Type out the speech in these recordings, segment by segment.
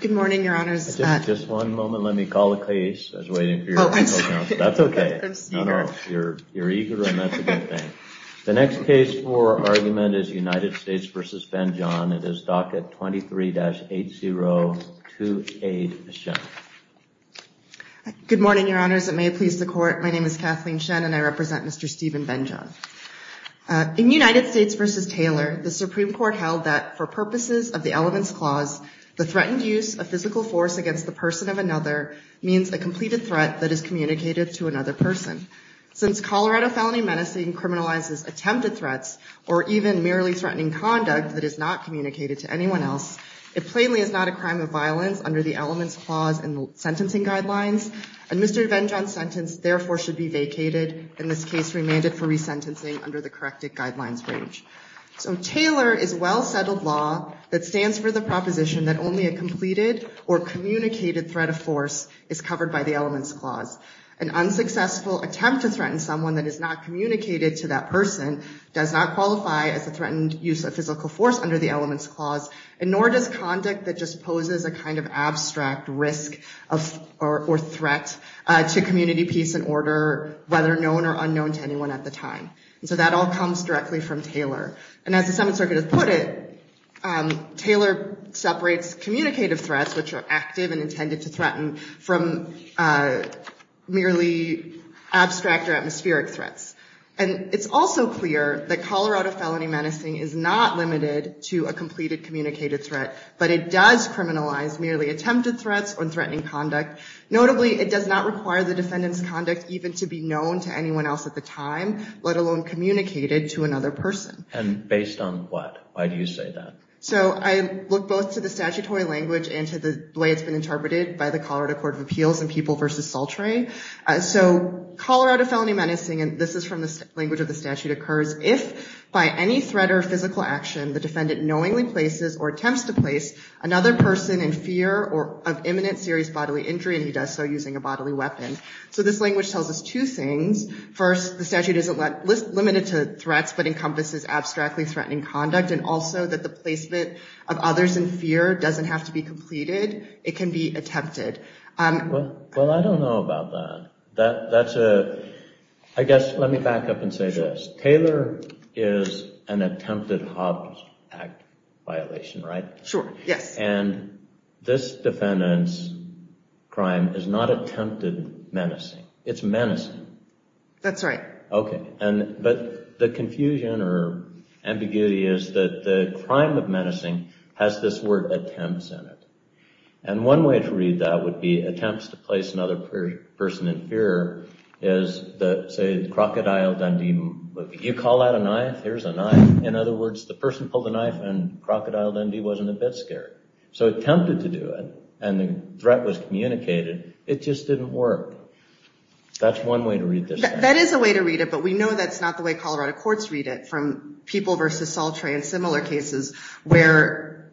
Good morning, Your Honors. Just one moment, let me call the case. I was waiting for you. Oh, I'm sorry. That's okay. I'm eager. You're eager, and that's a good thing. The next case for argument is United States v. Venjohn. It is docket 23-8028, Ms. Shen. Good morning, Your Honors. It may please the Court. My name is Kathleen Shen, and I represent Mr. Stephen Venjohn. In United States v. Taylor, the Supreme Court held that, for purposes of the Elements Clause, the threatened use of physical force against the person of another means a completed threat that is communicated to another person. Since Colorado felony menacing criminalizes attempted threats or even merely threatening conduct that is not communicated to anyone else, it plainly is not a crime of violence under the Elements Clause and the sentencing guidelines, and Mr. Venjohn's sentence therefore should be vacated, in this case remanded for resentencing under the corrected guidelines range. So Taylor is well-settled law that stands for the proposition that only a completed or communicated threat of force is covered by the Elements Clause. An unsuccessful attempt to threaten someone that is not communicated to that person does not qualify as a threatened use of physical force under the Elements Clause, and nor does conduct that just poses a kind of abstract risk or threat to community peace and order, whether known or unknown to anyone at the time. So that all comes directly from Taylor. And as the Seventh Circuit has put it, Taylor separates communicative threats, which are active and intended to threaten, from merely abstract or atmospheric threats. And it's also clear that Colorado felony menacing is not limited to a completed communicated threat, but it does criminalize merely attempted threats or threatening conduct. Notably, it does not require the defendant's conduct even to be known to anyone else at the time, let alone communicated to another person. And based on what? Why do you say that? So I look both to the statutory language and to the way it's been interpreted by the Colorado Court of Appeals in People v. Sultry. So Colorado felony menacing, and this is from the language of the statute, occurs if by any threat or physical action the defendant knowingly places or attempts to place another person in fear of imminent serious bodily injury and he does so using a bodily weapon. So this language tells us two things. First, the statute is limited to threats but encompasses abstractly threatening conduct and also that the placement of others in fear doesn't have to be completed. It can be attempted. Well, I don't know about that. I guess let me back up and say this. Taylor is an attempted Hobbs Act violation, right? Sure, yes. And this defendant's crime is not attempted menacing. It's menacing. That's right. Okay, but the confusion or ambiguity is that the crime of menacing has this word attempts in it. And one way to read that would be attempts to place another person in fear is the, say, the crocodile Dundee movie. You call out a knife, here's a knife. In other words, the person pulled the knife and crocodile Dundee wasn't a bit scared. So attempted to do it and the threat was communicated, it just didn't work. That's one way to read this. That is a way to read it, but we know that's not the way Colorado courts read it from People v. Salter and similar cases where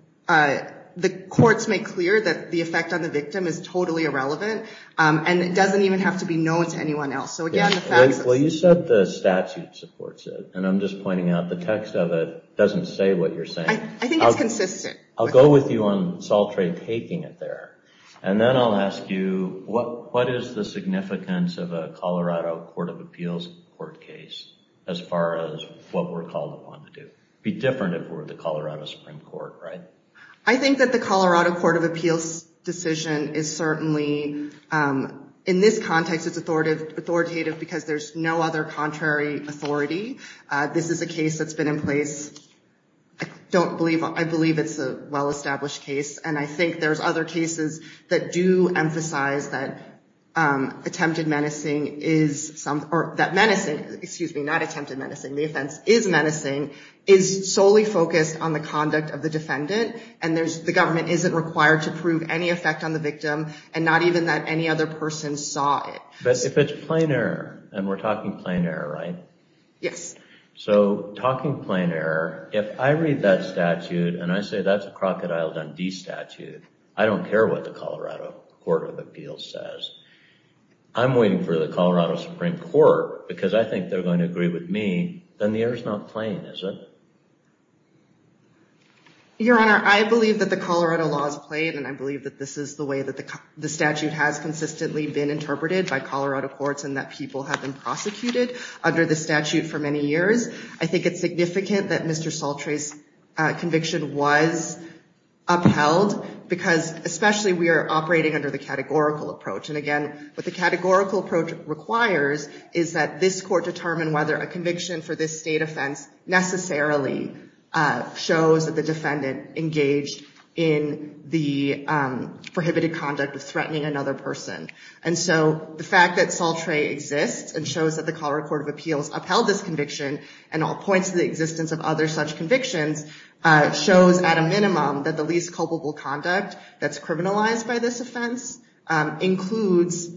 the courts make clear that the effect on the victim is totally irrelevant and it doesn't even have to be known to anyone else. Well, you said the statute supports it and I'm just pointing out the text of it but I think it's consistent. I'll go with you on Salter taking it there and then I'll ask you what is the significance of a Colorado Court of Appeals court case as far as what we're called upon to do? It'd be different if we were the Colorado Supreme Court, right? I think that the Colorado Court of Appeals decision is certainly, in this context, it's authoritative because there's no other contrary authority. This is a case that's been in place, I believe it's a well-established case and I think there's other cases that do emphasize that attempted menacing is, or that menacing, excuse me, not attempted menacing, the offense is menacing, is solely focused on the conduct of the defendant and the government isn't required to prove any effect on the victim and not even that any other person saw it. But if it's plain error, and we're talking plain error, right? Yes. So talking plain error, if I read that statute and I say that's a Crocodile Dundee statute, I don't care what the Colorado Court of Appeals says. I'm waiting for the Colorado Supreme Court because I think they're going to agree with me, then the error's not plain, is it? Your Honor, I believe that the Colorado law is plain and I believe that this is the way that the statute has consistently been interpreted by Colorado courts and that people have been prosecuted under the statute for many years. I think it's significant that Mr. Soltre's conviction was upheld because especially we are operating under the categorical approach. And again, what the categorical approach requires is that this court determine whether a conviction for this state offense necessarily shows that the defendant engaged in the prohibited conduct of threatening another person. And so the fact that Soltre exists and shows that the Colorado Court of Appeals upheld this conviction and all points to the existence of other such convictions shows at a minimum that the least culpable conduct that's criminalized by this offense includes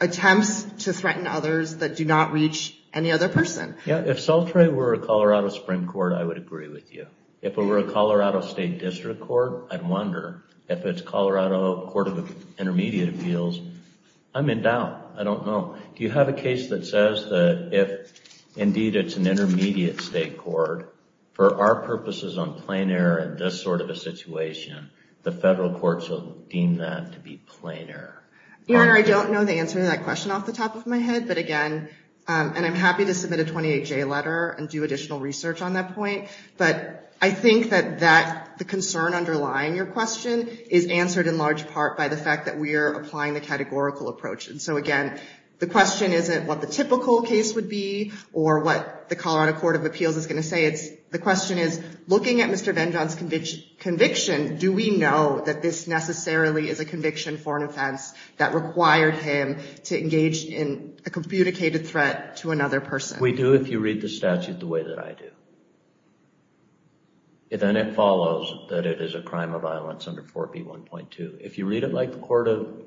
attempts to threaten others that do not reach any other person. Yeah, if Soltre were a Colorado Supreme Court, I would agree with you. If it were a Colorado State District Court, I'd wonder. If it's Colorado Court of Intermediate Appeals, I'm in doubt. I don't know. Do you have a case that says that if indeed it's an intermediate state court, for our purposes on plain error in this sort of a situation, the federal courts will deem that to be plain error? Your Honor, I don't know the answer to that question off the top of my head. But again, and I'm happy to submit a 28-J letter and do additional research on that point. But I think that the concern underlying your question is answered in large part by the fact that we are applying the categorical approach. And so again, the question isn't what the typical case would be or what the Colorado Court of Appeals is going to say. It's the question is, looking at Mr. Benjamin's conviction, do we know that this necessarily is a conviction for an offense that required him to engage in a communicated threat to another person? We do if you read the statute the way that I do. Then it follows that it is a crime of violence under 4B1.2. If you read it like the Court of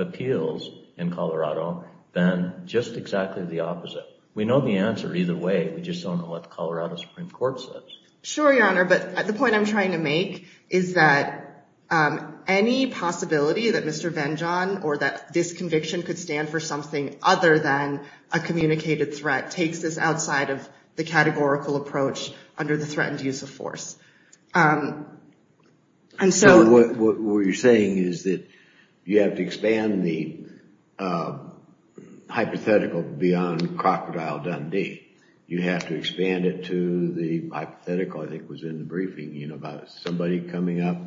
Appeals in Colorado, then just exactly the opposite. We know the answer either way. We just don't know what the Colorado Supreme Court says. Sure, Your Honor. But the point I'm trying to make is that any possibility that Mr. Benjamin or that this conviction could stand for something other than a communicated threat takes this outside of the categorical approach under the threatened use of force. So what you're saying is that you have to expand the hypothetical beyond Crocodile Dundee. You have to expand it to the hypothetical, I think was in the briefing, about somebody coming up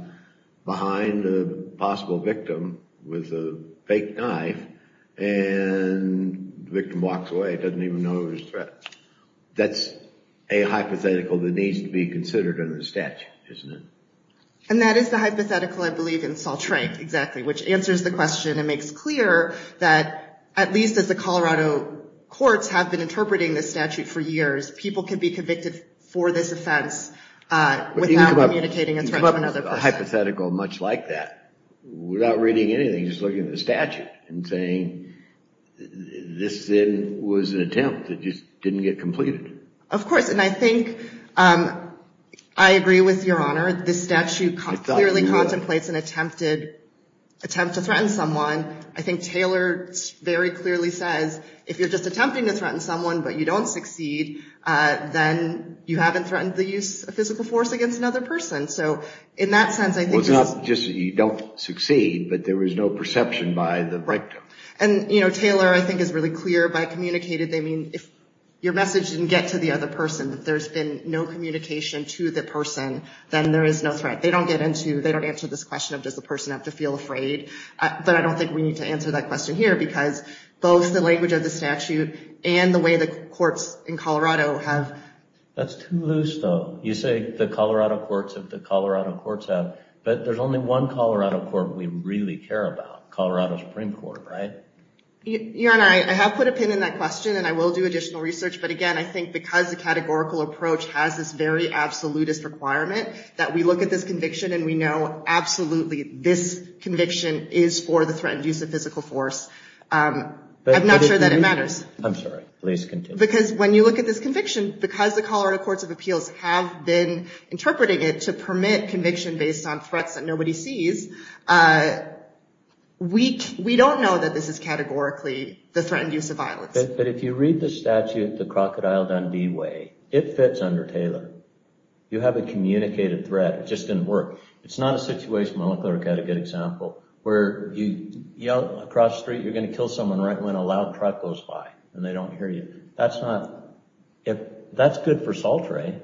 behind a possible victim with a fake knife and the victim walks away, doesn't even know it was a threat. That's a hypothetical that needs to be considered under the statute, isn't it? And that is the hypothetical, I believe, in Salt Lake, exactly, which answers the question and makes clear that at least as the Colorado courts have been interpreting this statute for years, people can be convicted for this offense without communicating a threat to another person. You can come up with a hypothetical much like that without reading anything, just looking at the statute and saying this then was an attempt. It just didn't get completed. Of course, and I think I agree with Your Honor. This statute clearly contemplates an attempt to threaten someone. I think Taylor very clearly says if you're just attempting to threaten someone but you don't succeed, then you haven't threatened the use of physical force against another person. So in that sense, I think... It's not just that you don't succeed, but there was no perception by the victim. And, you know, Taylor I think is really clear by communicated, they mean if your message didn't get to the other person, if there's been no communication to the person, then there is no threat. They don't get into, they don't answer this question of does the person have to feel afraid? But I don't think we need to answer that question here because both the language of the statute and the way the courts in Colorado have... That's too loose, though. You say the Colorado courts have, the Colorado courts have, but there's only one Colorado court we really care about, Colorado Supreme Court, right? Your Honor, I have put a pin in that question and I will do additional research. But again, I think because the categorical approach has this very absolutist requirement that we look at this conviction and we know absolutely this conviction is for the threatened use of physical force. I'm not sure that it matters. I'm sorry, please continue. Because when you look at this conviction, because the Colorado courts of appeals have been interpreting it to permit conviction based on threats that nobody sees, we don't know that this is categorically the threatened use of violence. But if you read the statute the Crocodile Dundee way, it fits under Taylor. You have a communicated threat. It just didn't work. It's not a situation, my law clerk had a good example, where you yell across the street, you're gonna kill someone right when a loud truck goes by and they don't hear you. That's not, that's good for Salt Ray,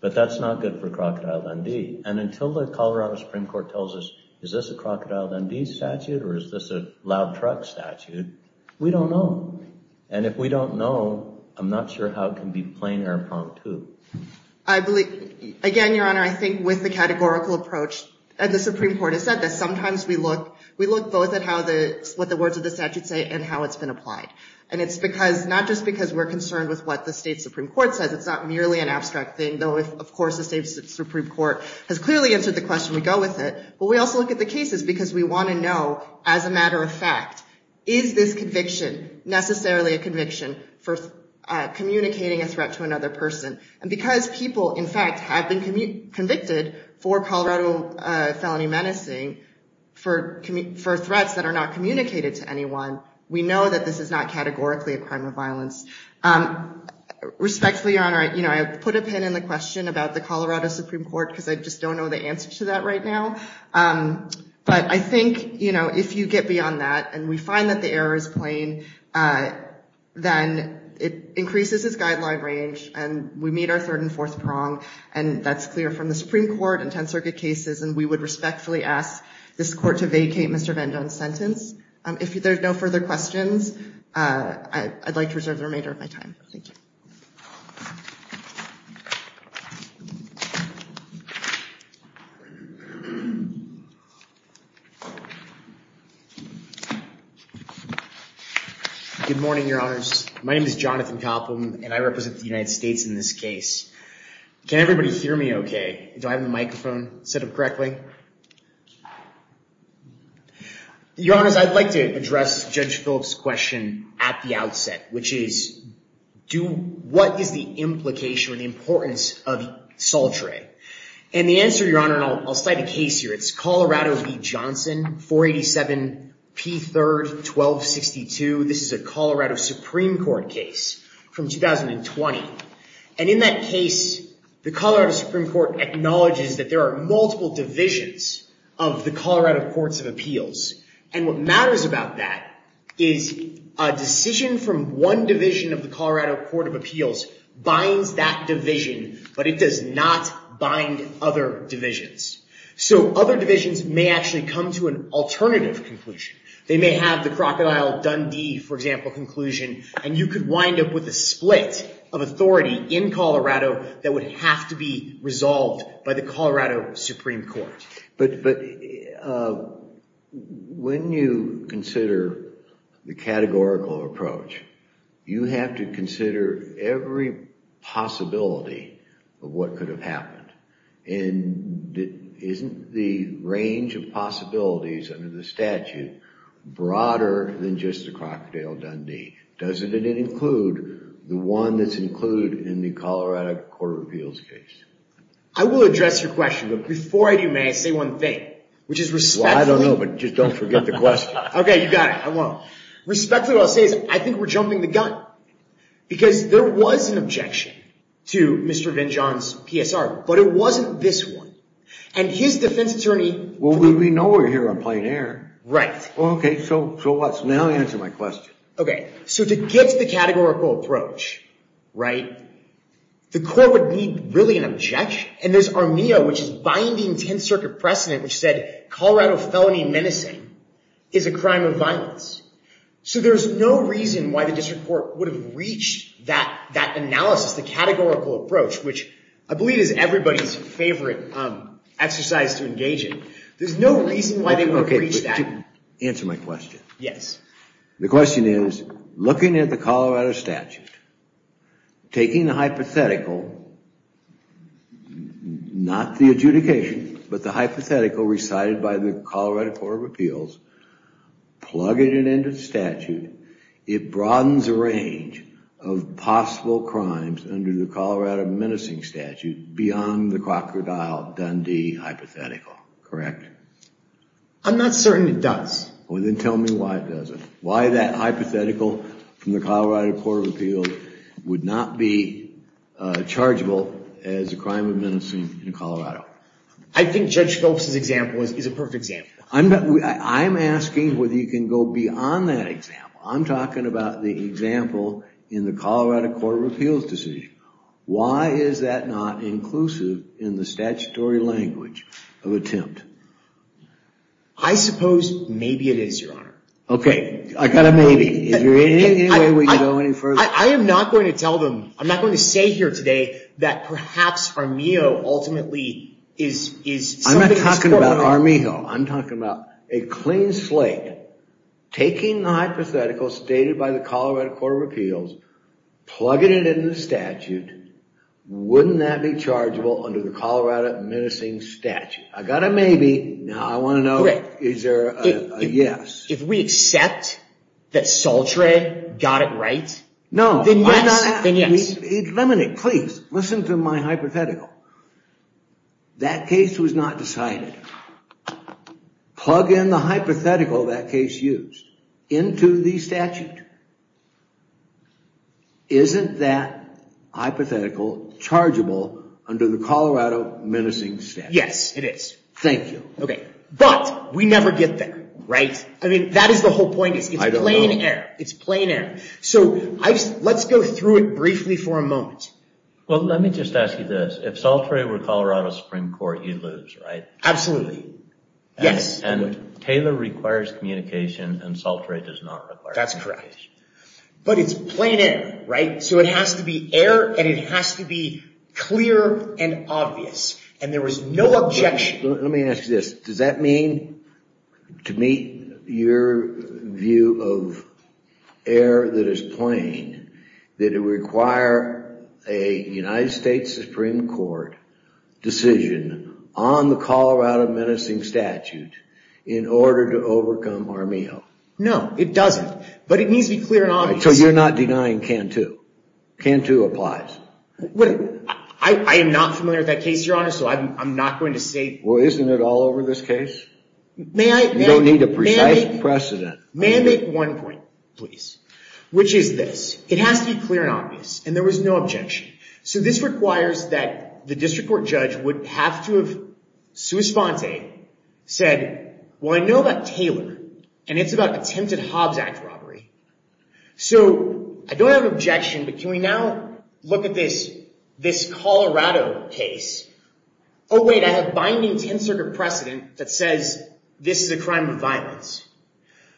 but that's not good for Crocodile Dundee. And until the Colorado Supreme Court tells us is this a Crocodile Dundee statute or is this a loud truck statute, we don't know. And if we don't know, I'm not sure how it can be plain or prompt too. I believe, again, Your Honor, I think with the categorical approach, the Supreme Court has said that sometimes we look, we look both at what the words of the statute say and how it's been applied. And it's because, not just because we're concerned with what the state Supreme Court says, it's not merely an abstract thing, though of course the state Supreme Court has clearly answered the question, we go with it, but we also look at the cases because we wanna know as a matter of fact, is this conviction necessarily a conviction for communicating a threat to another person? And because people, in fact, have been convicted for Colorado felony menacing for threats that are not communicated to anyone, we know that this is not categorically a crime of violence. Respectfully, Your Honor, I put a pin in the question about the Colorado Supreme Court because I just don't know the answer to that right now. But I think if you get beyond that and we find that the error is plain, then it increases its guideline range and we meet our third and fourth prong and that's clear from the Supreme Court and Tenth Circuit cases and we would respectfully ask this court to vacate Mr. Van Dunn's sentence. If there's no further questions, I'd like to reserve the remainder of my time. Thank you. Thank you. Good morning, Your Honors. My name is Jonathan Koppelman and I represent the United States in this case. Can everybody hear me okay? Do I have the microphone set up correctly? Your Honors, I'd like to address Judge Phillips' question at the outset, which is, what is the implication or the importance of Saltere? And the answer, Your Honor, and I'll cite a case here, it's Colorado v. Johnson, 487p3-1262. This is a Colorado Supreme Court case from 2020. And in that case, the Colorado Supreme Court acknowledges that there are multiple divisions of the Colorado Courts of Appeals. And what matters about that is a decision from one division of the Colorado Court of Appeals binds that division, but it does not bind other divisions. So other divisions may actually come to an alternative conclusion. They may have the Crocodile-Dundee, for example, conclusion, and you could wind up with a split of authority in Colorado that would have to be resolved by the Colorado Supreme Court. But when you consider the categorical approach, you have to consider every possibility of what could have happened. And isn't the range of possibilities under the statute broader than just the Crocodile-Dundee? Doesn't it include the one that's included in the Colorado Court of Appeals case? I will address your question, but before I do, may I say one thing, which is respectfully... Well, I don't know, but just don't forget the question. Okay, you got it. I won't. Respectfully, what I'll say is I think we're jumping the gun because there was an objection to Mr. Vinjohn's PSR, but it wasn't this one. And his defense attorney... Well, we know we're here on plain air. Right. Okay, so what? Now answer my question. Okay. So to get to the categorical approach, right, the court would need really an objection. And there's ARMEA, which is binding 10th Circuit precedent, which said Colorado felony menacing is a crime of violence. So there's no reason why the district court would have reached that analysis, the categorical approach, which I believe is everybody's favorite exercise to engage in. There's no reason why they would have reached that. Okay, but answer my question. Yes. The question is, looking at the Colorado statute, taking the hypothetical, not the adjudication, but the hypothetical recited by the Colorado Court of Appeals, plugging it into the statute, it broadens the range of possible crimes under the Colorado menacing statute beyond the Crocodile Dundee hypothetical. Correct? I'm not certain it does. Well, then tell me why it doesn't. Why that hypothetical from the Colorado Court of Appeals would not be chargeable as a crime of menacing in Colorado? I think Judge Phelps' example is a perfect example. I'm asking whether you can go beyond that example. I'm talking about the example in the Colorado Court of Appeals decision. Why is that not inclusive in the statutory language of attempt? I suppose maybe it is, Your Honor. Okay, I got a maybe. Is there any way we can go any further? I am not going to tell them, I'm not going to say here today that perhaps Armijo ultimately is something that's... I'm not talking about Armijo. I'm talking about a clean slate, taking the hypothetical stated by the Colorado Court of Appeals, plugging it into the statute, wouldn't that be chargeable under the Colorado menacing statute? I got a maybe. Now I want to know, is there a yes? If we accept that Soltre got it right, then yes. Let me, please, listen to my hypothetical. That case was not decided. Plug in the hypothetical that case used into the statute. Isn't that hypothetical chargeable under the Colorado menacing statute? Yes, it is. Thank you. Okay, but we never get there, right? That is the whole point. It's plain air. It's plain air. So let's go through it briefly for a moment. Well, let me just ask you this. If Soltre were Colorado Supreme Court, you'd lose, right? Absolutely. Yes. And Taylor requires communication and Soltre does not require communication. That's correct. But it's plain air, right? So it has to be air and it has to be clear and obvious. And there was no objection. Let me ask you this. Does that mean to meet your view of air that is plain that it require a United States Supreme Court decision on the Colorado menacing statute in order to overcome Armijo? No, it doesn't. But it needs to be clear and obvious. So you're not denying Cantu? Cantu applies. I am not familiar with that case, Your Honor. So I'm not going to say... Well, isn't it all over this case? You don't need a precise precedent. May I make one point, please? Which is this. It has to be clear and obvious. And there was no objection. So this requires that the district court judge would have to have sui sponte said, well, I know about Taylor and it's about attempted Hobbs Act robbery. So I don't have an objection, but can we now look at this this Colorado case? Oh, wait. I have binding 10th Circuit precedent that says this is a crime of violence.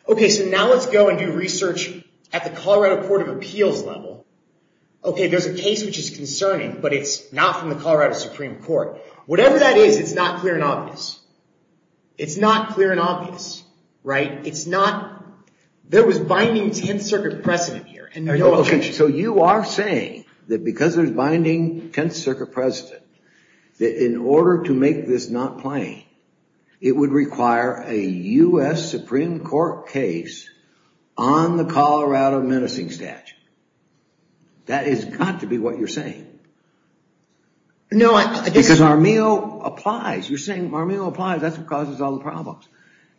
Okay, so now let's go and do research at the Colorado Court of Appeals level. Okay, there's a case which is concerning, but it's not from the Colorado Supreme Court. Whatever that is, it's not clear and obvious. It's not clear and obvious. Right? It's not... There was binding 10th Circuit precedent here. So you are saying that because there's binding 10th Circuit precedent, that in order to make this not plain, it would require a U.S. Supreme Court case on the Colorado menacing statute. That has got to be what you're saying. No, I just... Because Armijo applies. You're saying Armijo applies. That's what causes all the problems.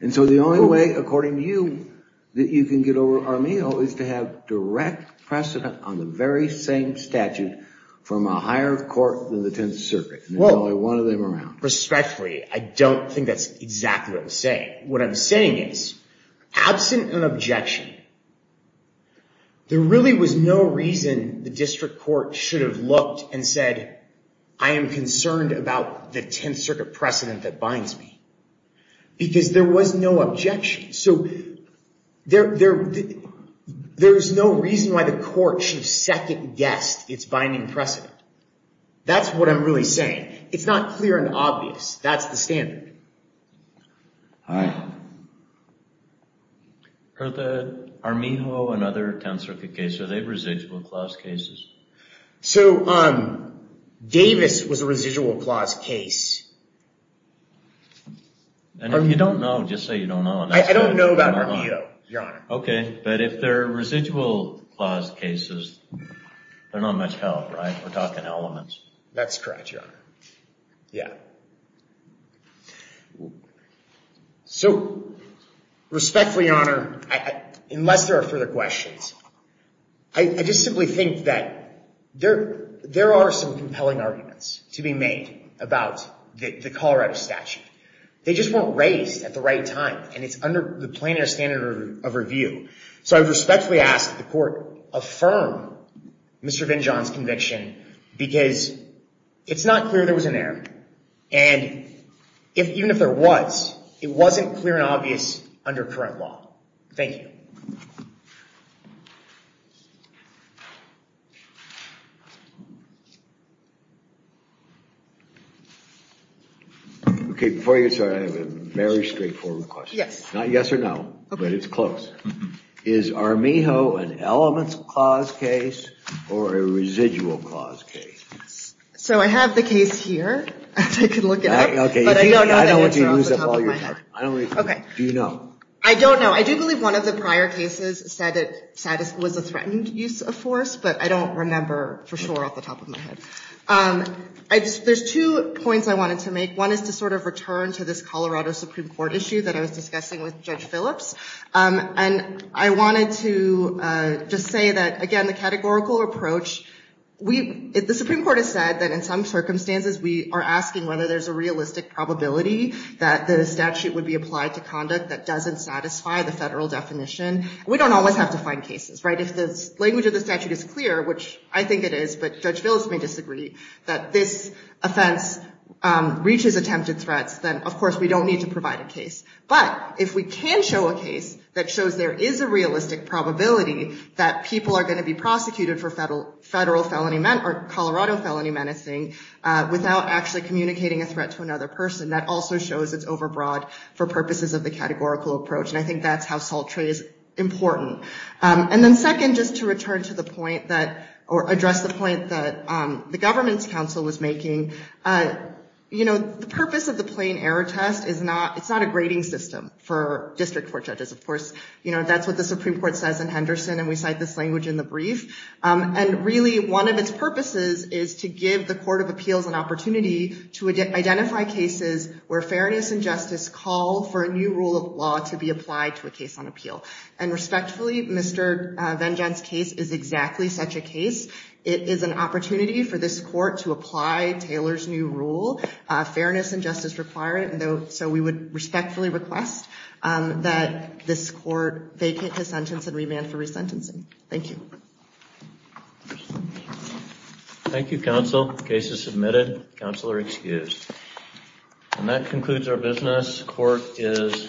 And so the only way, according to you, that you can get over Armijo is to have direct precedent on the very same statute from a higher court than the 10th Circuit. There's only one of them around. Respectfully, I don't think that's exactly what I'm saying. What I'm saying is, absent an objection, there really was no reason the district court should have looked and said, I am concerned about the 10th Circuit precedent that binds me. Because there was no objection. So there's no reason why the court should have second guessed its binding precedent. That's what I'm really saying. It's not clear and obvious. That's the standard. All right. Are the Armijo and other 10th Circuit cases, are they residual clause cases? So Davis was a residual clause case. And if you don't know, just say you don't know. I don't know about Armijo, Your Honor. Okay. But if they're residual clause cases, they're not much help, right? We're talking elements. That's correct, Your Honor. Yeah. So, respectfully, Your Honor, unless there are further questions, I just simply think that there are some compelling arguments to be made about the Colorado statute. They just weren't raised at the right time. And it's under the plaintiff's standard of review. So I respectfully ask that the court affirm Mr. Vinjohn's conviction because it's not clear there was an error. And even if there was, it wasn't clear and obvious under current law. Thank you. Okay. Before I get started, I have a very straightforward question. Yes. Not yes or no, but it's close. Is Armijo an elements clause case or a residual clause case? So I have the case here. I could look it up. Okay. I don't want to use up all your time. Okay. Do you know? I don't know. I do believe one of the prior cases said it was a threatened use of force, but I don't remember for sure off the top of my head. There's two points I wanted to make. One is to sort of return to this Colorado Supreme Court issue that I was discussing with Judge Phillips. And I wanted to just say that, again, the categorical approach, the Supreme Court has said that in some circumstances we are asking whether there's a realistic probability that the statute would be applied to conduct that doesn't satisfy the federal definition. We don't always have to find cases, right? If the language of the statute is clear, which I think it is, but Judge Phillips may disagree that this offense reaches attempted threats, then, of course, we don't need to provide a case. But if we can show a case that shows there is a realistic probability that people are going to be prosecuted for Colorado felony menacing without actually communicating a threat to another person, that also shows it's overbroad for purposes of the categorical approach. And I think that's how salt tray is important. And then second, just to return to the point that, or address the point that the government's counsel was making, the purpose of the plain error test, it's not a grading system for district court judges. Of course, that's what the Supreme Court says in Henderson, and we cite this language in the brief. And really, one of its purposes is to give the Court of Appeals an opportunity to identify cases where fairness and justice call for a new rule of law to be applied to a case on appeal. And respectfully, Mr. Vengeance's case is exactly such a case. It is an opportunity for this court to apply Taylor's new rule, fairness and justice required. So we would respectfully request that this court vacate his sentence and remand for resentencing. Thank you. Thank you, counsel. Case is submitted. Counsel are excused. And that concludes our business. Court is adjourned.